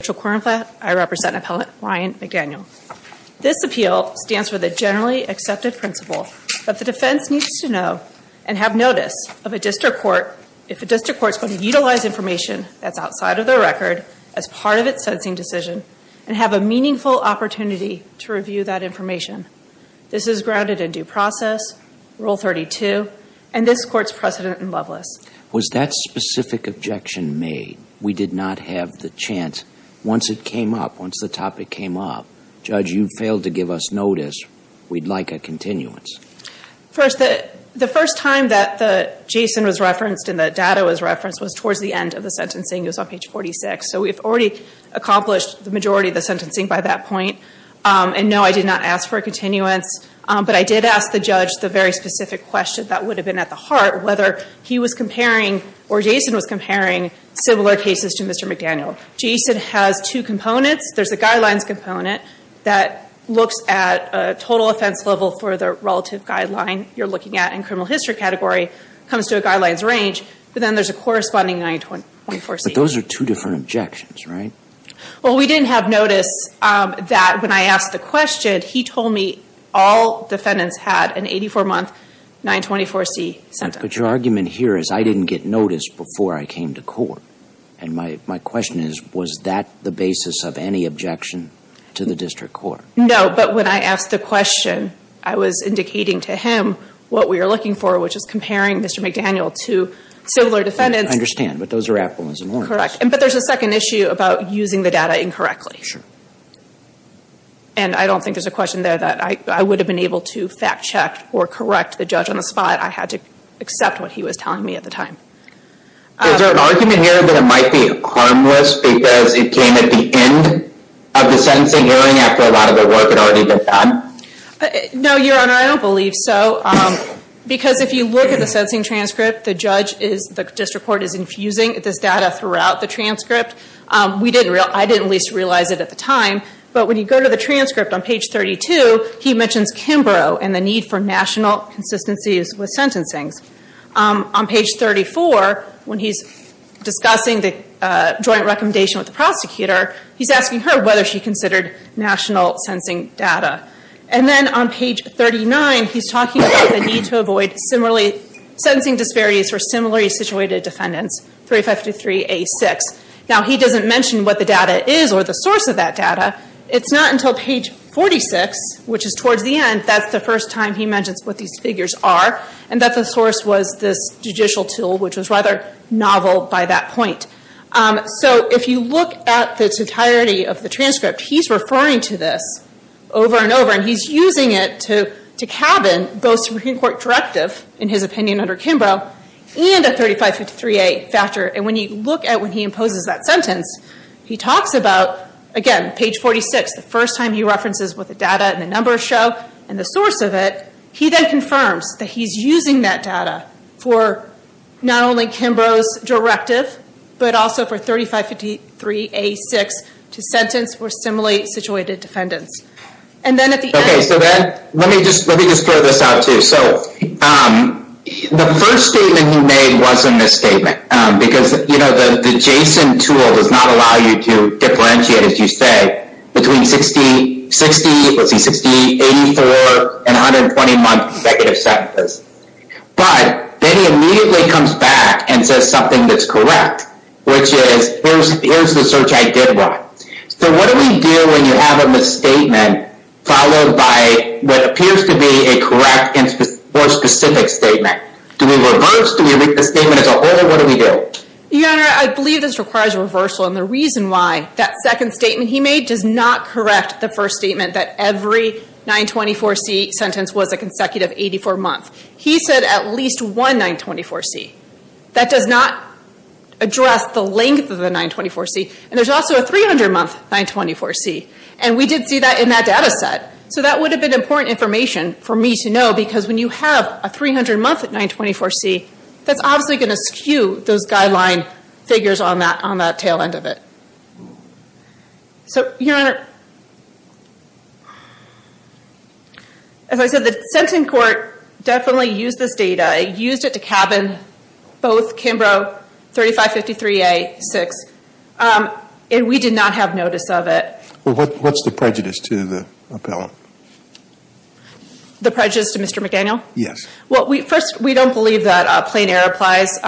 This appeal stands for the generally accepted principle that the defense needs to know and have notice of a district court if a district court is going to utilize information that's outside of their record as part of its sentencing decision and have a meaningful opportunity to review that information. This is grounded in due process, Rule 32, and this Court's precedent in Loveless. Was that specific objection made? We did not have the chance. Once it came up, once the topic came up, Judge, you failed to give us notice. We'd like a continuance. First, the first time that the Jason was referenced and the data was referenced was towards the end of the sentencing. It was on page 46. So we've already accomplished the majority of the sentencing by that point. And no, I did not ask for a continuance, but I did ask the judge the very specific question that would have been at the heart, whether he was comparing or Jason was comparing similar cases to Mr. McDaniel. Jason has two components. There's a guidelines component that looks at a total offense level for the relative guideline you're looking at in criminal history category, comes to a guidelines range, but then there's a corresponding 924C. But those are two different objections, right? Well, we didn't have notice that when I asked the question, he told me all defendants had an 84-month 924C sentence. But your argument here is I didn't get notice before I came to court. And my question is, was that the basis of any objection to the district court? No, but when I asked the question, I was indicating to him what we were looking for, which is comparing Mr. McDaniel to similar defendants. I understand, but those are apples and oranges. Correct. But there's a second issue about using the data incorrectly. Sure. And I don't think there's a question there that I would have been able to fact check or correct the judge on the spot. I had to accept what he was telling me at the time. Is there an argument here that it might be harmless because it came at the end of the sentencing hearing after a lot of the work had already been done? No, Your Honor, I don't believe so. Because if you look at the sentencing transcript, the district court is infusing this data throughout the transcript. I didn't at least realize it at the time. But when you go to the transcript on page 32, he mentions Kimbrough and the need for national consistencies with sentencings. On page 34, when he's discussing the joint recommendation with the prosecutor, he's asking her whether she considered national sentencing data. And then on page 39, he's talking about the need to avoid sentencing disparities for similarly situated defendants, 3523A6. Now, he doesn't mention what the data is or the source of that data. It's not until page 46, which is towards the end, that's the first time he mentions what these figures are and that the source was this judicial tool, which was rather novel by that point. So if you look at the totality of the transcript, he's referring to this over and over. And he's using it to cabin both Supreme Court directive in his opinion under Kimbrough and a 3523A factor. And when you look at when he imposes that sentence, he talks about, again, page 46, the first time he references what the data and the numbers show and the source of it. He then confirms that he's using that data for not only Kimbrough's directive, but also for 3523A6 to sentence for similarly situated defendants. And then at the end... Thank you. So the first statement he made was a misstatement because, you know, the JSON tool does not allow you to differentiate, as you say, between 60, 84 and 120 month negative sentences. But then he immediately comes back and says something that's correct, which is, here's the search I did one. So what do we do when you have a misstatement followed by what appears to be a correct or specific statement? Do we reverse? Do we make the statement as a whole? What do we do? Your Honor, I believe this requires reversal. And the reason why that second statement he made does not correct the first statement that every 924C sentence was a consecutive 84 months. He said at least one 924C. That does not address the length of the 924C. And there's also a 300-month 924C. And we did see that in that data set. So that would have been important information for me to know because when you have a 300-month 924C, that's obviously going to skew those guideline figures on that tail end of it. So, Your Honor, as I said, the sentencing court definitely used this data. It used it to cabin both Kimbrough 3553A, 6. And we did not have notice of it. Well, what's the prejudice to the appellant? The prejudice to Mr. McDaniel? Yes. Well, first, we don't believe that plain error applies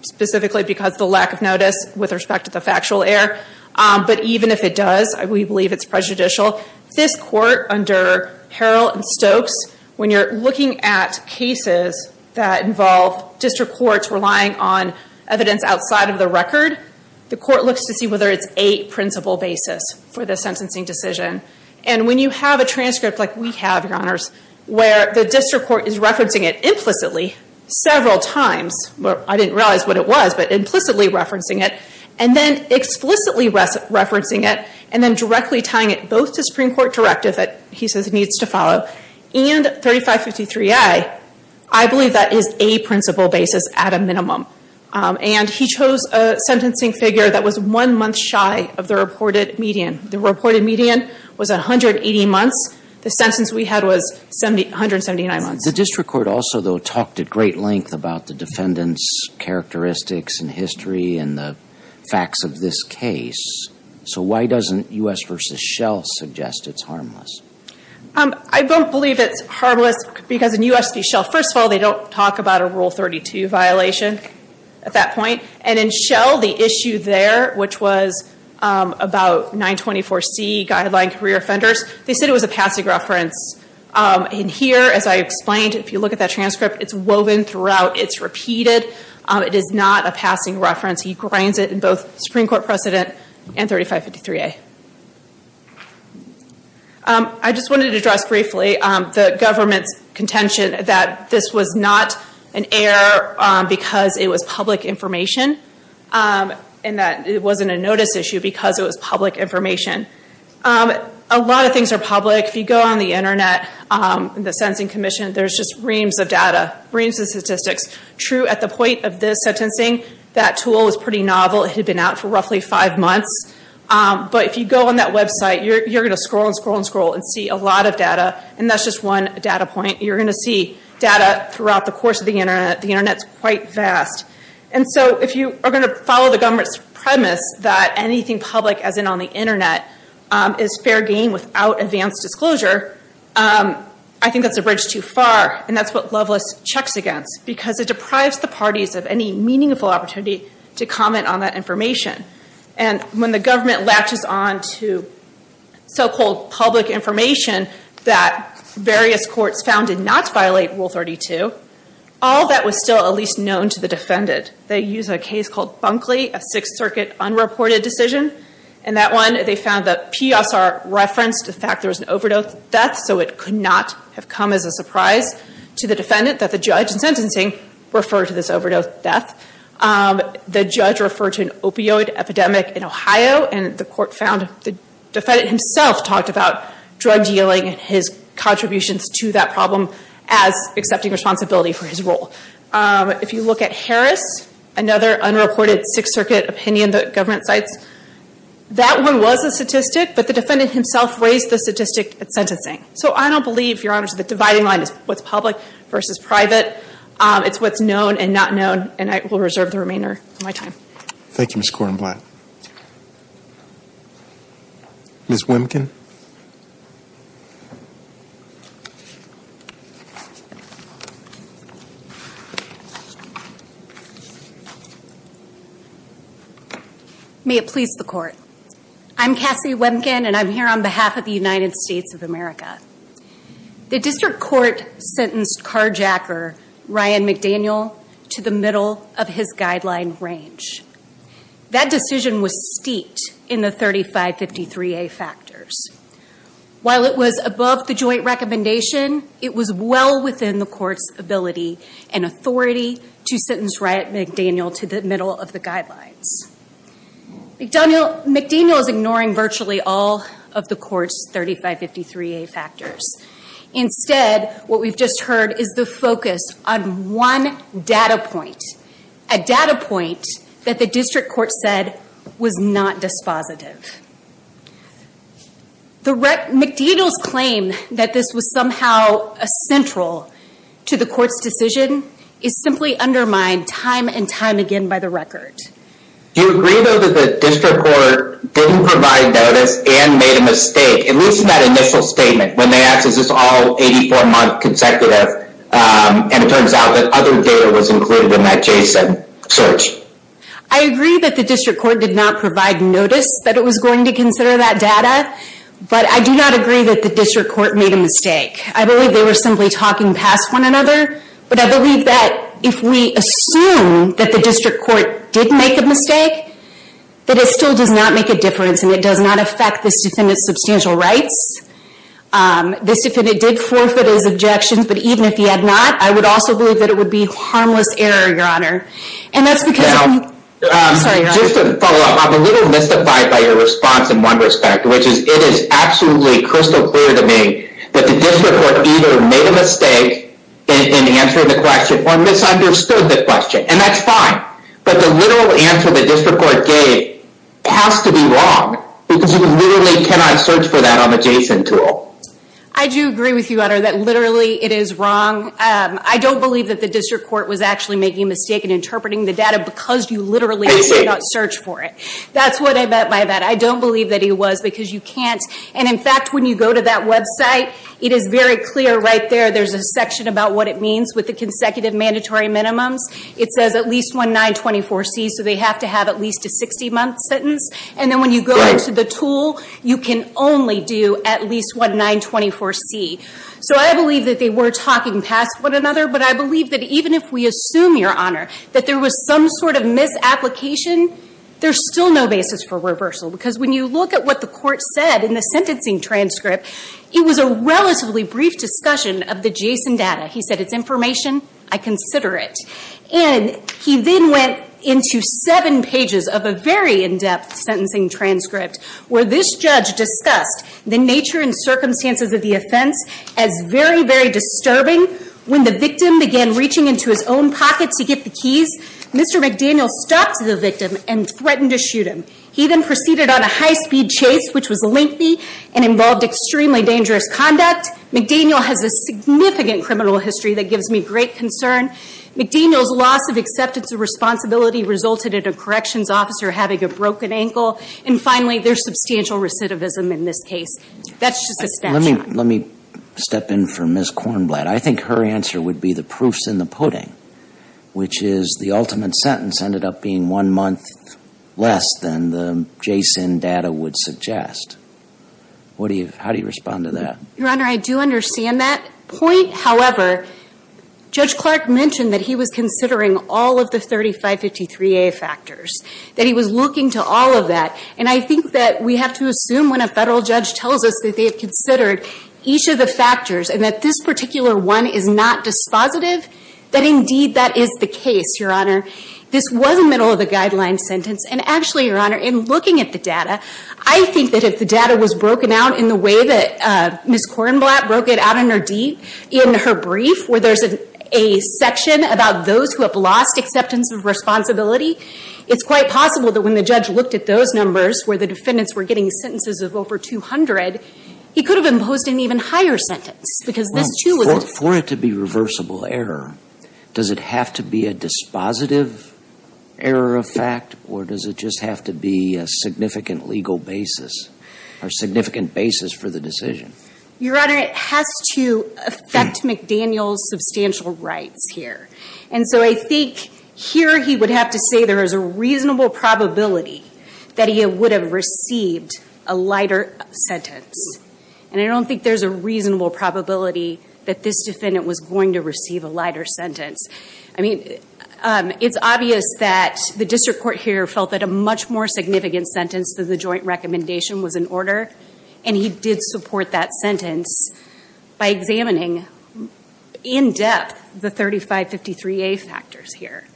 specifically because of the lack of notice with respect to the factual error. But even if it does, we believe it's prejudicial. For example, this court under Harrell and Stokes, when you're looking at cases that involve district courts relying on evidence outside of the record, the court looks to see whether it's a principal basis for the sentencing decision. And when you have a transcript like we have, Your Honors, where the district court is referencing it implicitly several times, I didn't realize what it was, but implicitly referencing it, and then explicitly referencing it, and then directly tying it both to Supreme Court directive that he says needs to follow, and 3553A, I believe that is a principal basis at a minimum. And he chose a sentencing figure that was one month shy of the reported median. The reported median was 180 months. The sentence we had was 179 months. The district court also, though, talked at great length about the defendant's characteristics and history and the facts of this case. So why doesn't U.S. v. Shell suggest it's harmless? I don't believe it's harmless because in U.S. v. Shell, first of all, they don't talk about a Rule 32 violation at that point. And in Shell, the issue there, which was about 924C guideline career offenders, they said it was a passing reference. In here, as I explained, if you look at that transcript, it's woven throughout. It's repeated. It is not a passing reference. He grinds it in both Supreme Court precedent and 3553A. I just wanted to address briefly the government's contention that this was not an error because it was public information, and that it wasn't a notice issue because it was public information. A lot of things are public. If you go on the Internet, the Sentencing Commission, there's just reams of data, reams of statistics. True, at the point of this sentencing, that tool was pretty novel. It had been out for roughly five months. But if you go on that website, you're going to scroll and scroll and scroll and see a lot of data, and that's just one data point. You're going to see data throughout the course of the Internet. The Internet's quite vast. If you are going to follow the government's premise that anything public, as in on the Internet, is fair game without advanced disclosure, I think that's a bridge too far, and that's what Loveless checks against because it deprives the parties of any meaningful opportunity to comment on that information. When the government latches on to so-called public information that various courts found did not violate Rule 32, all that was still at least known to the defendant. They used a case called Bunkley, a Sixth Circuit unreported decision. In that one, they found that PSR referenced the fact there was an overdose death, so it could not have come as a surprise to the defendant that the judge in sentencing referred to this overdose death. The defendant himself talked about drug dealing and his contributions to that problem as accepting responsibility for his role. If you look at Harris, another unreported Sixth Circuit opinion the government cites, that one was a statistic, but the defendant himself raised the statistic at sentencing. So I don't believe, Your Honor, that the dividing line is what's public versus private. It's what's known and not known, and I will reserve the remainder of my time. Thank you, Ms. Korenblatt. Ms. Wemkin. May it please the Court. I'm Cassie Wemkin, and I'm here on behalf of the United States of America. The district court sentenced carjacker Ryan McDaniel to the middle of his guideline range. That decision was steeped in the 3553A factors. While it was above the joint recommendation, it was well within the court's ability and authority to sentence Ryan McDaniel to the middle of the guidelines. McDaniel is ignoring virtually all of the court's 3553A factors. Instead, what we've just heard is the focus on one data point, a data point that the district court said was not dispositive. McDaniel's claim that this was somehow central to the court's decision is simply undermined time and time again by the record. Do you agree, though, that the district court didn't provide notice and made a mistake, at least in that initial statement when they asked, is this all 84-month consecutive, and it turns out that other data was included in that JSON search? I agree that the district court did not provide notice that it was going to consider that data, but I do not agree that the district court made a mistake. I believe they were simply talking past one another, but I believe that if we assume that the district court did make a mistake, that it still does not make a difference and it does not affect this defendant's substantial rights. This defendant did forfeit his objections, but even if he had not, I would also believe that it would be harmless error, Your Honor. And that's because... Now, just to follow up, I'm a little mystified by your response in one respect, which is it is absolutely crystal clear to me that the district court either made a mistake in answering the question or misunderstood the question, and that's fine. But the literal answer the district court gave has to be wrong because you literally cannot search for that on the JSON tool. I do agree with you, Your Honor, that literally it is wrong. I don't believe that the district court was actually making a mistake in interpreting the data because you literally did not search for it. That's what I meant by that. I don't believe that it was because you can't. And, in fact, when you go to that website, it is very clear right there, there's a section about what it means with the consecutive mandatory minimums. It says at least one 924C, so they have to have at least a 60-month sentence. And then when you go into the tool, you can only do at least one 924C. So I believe that they were talking past one another, but I believe that even if we assume, Your Honor, that there was some sort of misapplication, there's still no basis for reversal. Because when you look at what the court said in the sentencing transcript, it was a relatively brief discussion of the JSON data. He said, It's information. I consider it. And he then went into seven pages of a very in-depth sentencing transcript where this judge discussed the nature and circumstances of the offense as very, very disturbing. Mr. McDaniel stopped the victim and threatened to shoot him. He then proceeded on a high-speed chase, which was lengthy and involved extremely dangerous conduct. McDaniel has a significant criminal history that gives me great concern. McDaniel's loss of acceptance of responsibility resulted in a corrections officer having a broken ankle. And, finally, there's substantial recidivism in this case. That's just a snapshot. Let me step in for Ms. Kornblatt. I think her answer would be the proof's in the pudding, which is the ultimate sentence ended up being one month less than the JSON data would suggest. How do you respond to that? Your Honor, I do understand that point. However, Judge Clark mentioned that he was considering all of the 3553A factors, that he was looking to all of that. And I think that we have to assume when a federal judge tells us that they have considered each of the factors and that this particular one is not dispositive, that, indeed, that is the case, Your Honor. This was a middle-of-the-guideline sentence. And, actually, Your Honor, in looking at the data, I think that if the data was broken out in the way that Ms. Kornblatt broke it out in her brief, where there's a section about those who have lost acceptance of responsibility, it's quite possible that when the judge looked at those numbers, where the defendants were getting sentences of over 200, he could have imposed an even higher sentence because this, too, was a... Well, for it to be reversible error, does it have to be a dispositive error of fact, or does it just have to be a significant legal basis or significant basis for the decision? Your Honor, it has to affect McDaniel's substantial rights here. And so I think here he would have to say there is a reasonable probability that he would have received a lighter sentence. And I don't think there's a reasonable probability that this defendant was going to receive a lighter sentence. I mean, it's obvious that the district court here felt that a much more significant sentence than the joint recommendation was in order, and he did support that sentence by examining in depth the 3553A factors here.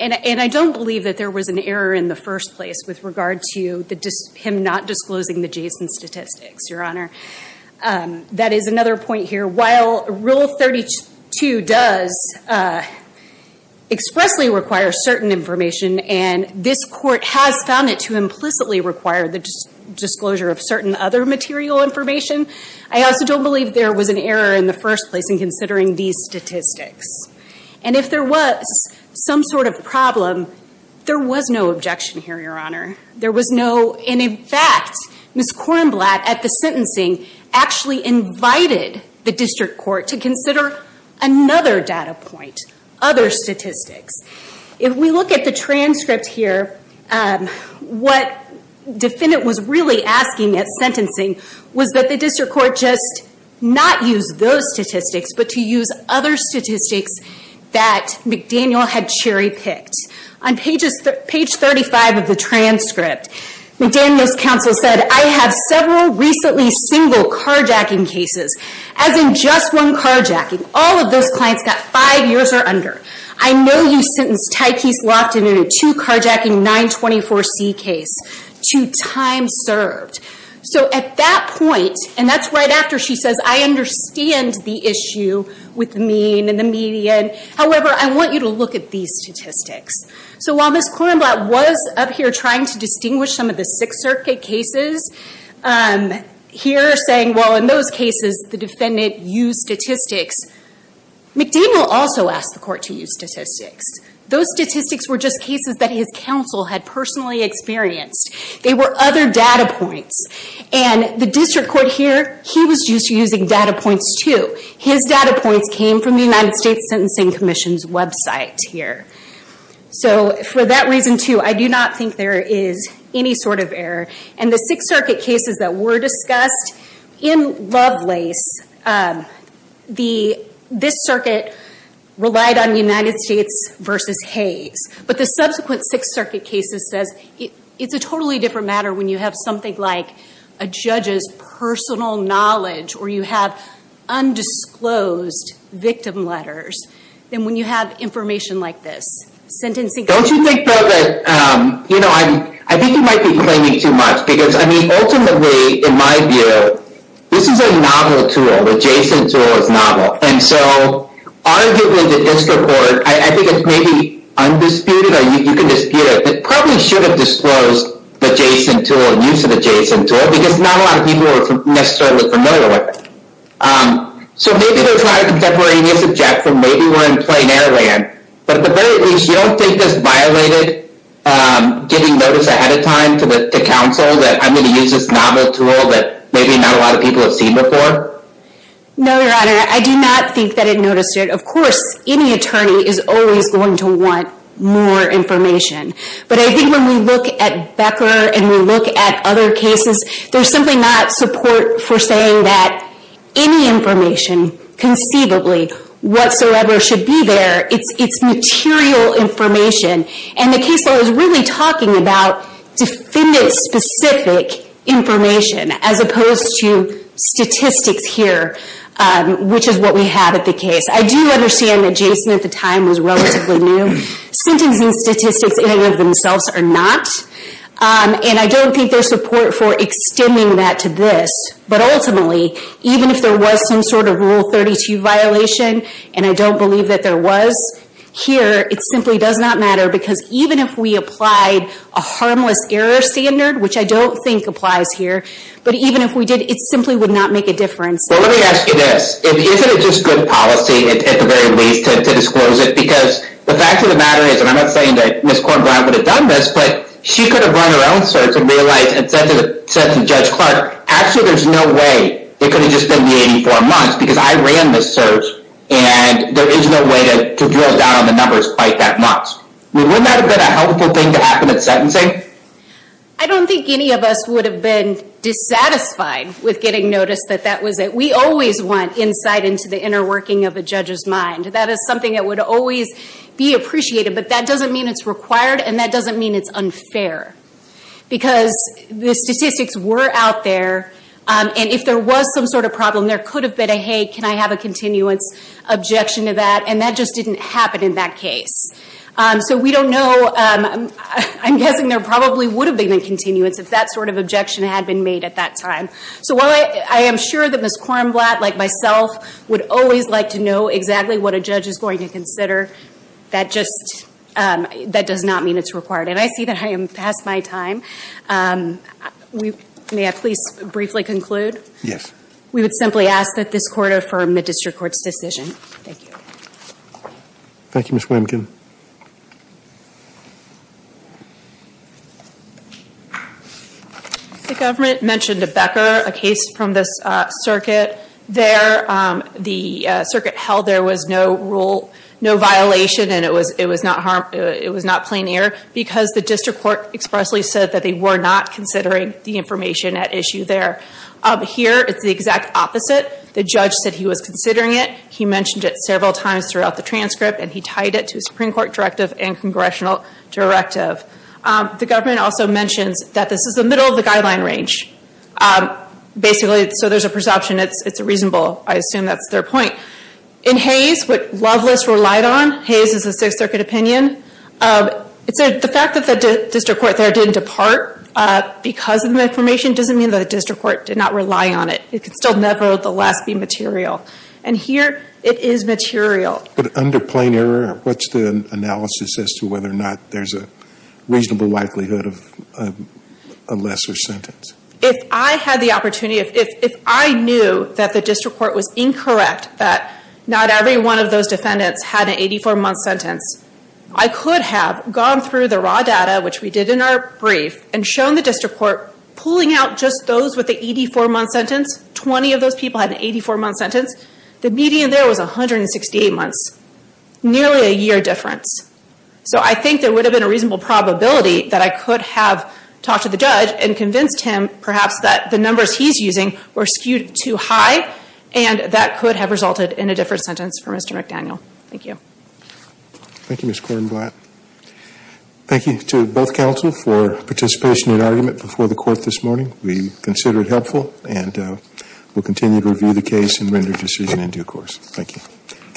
And I don't believe that there was an error in the first place with regard to him not disclosing the Jason statistics, Your Honor. That is another point here. While Rule 32 does expressly require certain information, and this court has found it to implicitly require the disclosure of certain other material information, I also don't believe there was an error in the first place in considering these statistics. And if there was some sort of problem, there was no objection here, Your Honor. There was no... And in fact, Ms. Korenblatt at the sentencing actually invited the district court to consider another data point, other statistics. If we look at the transcript here, what the defendant was really asking at sentencing was that the district court just not use those statistics, but to use other statistics that McDaniel had cherry-picked. On page 35 of the transcript, McDaniel's counsel said, I have several recently single carjacking cases, as in just one carjacking. All of those clients got five years or under. I know you sentenced Tykeese Lofton in a two carjacking 924C case to time served. So at that point, and that's right after she says, I understand the issue with the mean and the median. However, I want you to look at these statistics. So while Ms. Korenblatt was up here trying to distinguish some of the Sixth Circuit cases, here saying, well, in those cases, the defendant used statistics, McDaniel also asked the court to use statistics. Those statistics were just cases that his counsel had personally experienced. They were other data points. And the district court here, he was used to using data points, too. His data points came from the United States Sentencing Commission's website here. So for that reason, too, I do not think there is any sort of error. And the Sixth Circuit cases that were discussed, in Lovelace, this circuit relied on United States v. Hayes. But the subsequent Sixth Circuit cases says it's a totally different matter when you have something like a judge's personal knowledge or you have undisclosed victim letters than when you have information like this. Don't you think, though, that, you know, I think you might be claiming too much. Because, I mean, ultimately, in my view, this is a novel tool. The JSON tool is novel. And so, arguably, the district court, I think it's maybe undisputed or you can dispute it, but probably should have disclosed the JSON tool, use of the JSON tool, because not a lot of people are necessarily familiar with it. So maybe there's a lot of contemporaneous objection. Maybe we're in plain air land. But at the very least, you don't think this violated getting notice ahead of time to counsel that I'm going to use this novel tool that maybe not a lot of people have seen before? No, Your Honor. I do not think that it noticed it. Of course, any attorney is always going to want more information. But I think when we look at Becker and we look at other cases, there's simply not support for saying that any information conceivably whatsoever should be there. It's material information. And the case law is really talking about defendant-specific information as opposed to statistics here, which is what we have at the case. I do understand that JSON at the time was relatively new. Sentencing statistics in and of themselves are not. And I don't think there's support for extending that to this. But ultimately, even if there was some sort of Rule 32 violation, and I don't believe that there was here, it simply does not matter because even if we applied a harmless error standard, which I don't think applies here, but even if we did, it simply would not make a difference. Well, let me ask you this. Isn't it just good policy, at the very least, to disclose it? Because the fact of the matter is, and I'm not saying that Ms. Kornblund would have done this, but she could have run her own search and realized and said to Judge Clark, actually there's no way it could have just been the 84 months because I ran the search and there is no way to drill down on the numbers quite that much. Wouldn't that have been a helpful thing to happen at sentencing? I don't think any of us would have been dissatisfied with getting noticed that that was it. We always want insight into the inner working of a judge's mind. That is something that would always be appreciated, but that doesn't mean it's required and that doesn't mean it's unfair because the statistics were out there and if there was some sort of problem, there could have been a, hey, can I have a continuance objection to that, and that just didn't happen in that case. So we don't know. I'm guessing there probably would have been a continuance if that sort of objection had been made at that time. So while I am sure that Ms. Kornblatt, like myself, would always like to know exactly what a judge is going to consider, that just does not mean it's required. And I see that I am past my time. May I please briefly conclude? Yes. We would simply ask that this Court affirm the district court's decision. Thank you. Thank you, Ms. Williamson. The government mentioned Becker, a case from this circuit. There, the circuit held there was no violation and it was not plain error because the district court expressly said that they were not considering the information at issue there. Here, it's the exact opposite. The judge said he was considering it. He mentioned it several times throughout the transcript and he tied it to a Supreme Court directive and congressional directive. The government also mentions that this is the middle of the guideline range. Basically, so there's a perception it's reasonable. I assume that's their point. In Hayes, what Loveless relied on, Hayes is a Sixth Circuit opinion, the fact that the district court there didn't depart because of the information doesn't mean that the district court did not rely on it. It could still nevertheless be material. And here, it is material. But under plain error, what's the analysis as to whether or not there's a reasonable likelihood of a lesser sentence? If I had the opportunity, if I knew that the district court was incorrect, that not every one of those defendants had an 84-month sentence, I could have gone through the raw data, which we did in our brief, and shown the district court pulling out just those with the 84-month sentence. Twenty of those people had an 84-month sentence. The median there was 168 months, nearly a year difference. So I think there would have been a reasonable probability that I could have talked to the judge and convinced him perhaps that the numbers he's using were skewed too high, and that could have resulted in a different sentence for Mr. McDaniel. Thank you. Thank you, Ms. Kornblatt. Thank you to both counsel for participation in argument before the court this morning. We consider it helpful, and we'll continue to review the case and render a decision in due course. Thank you.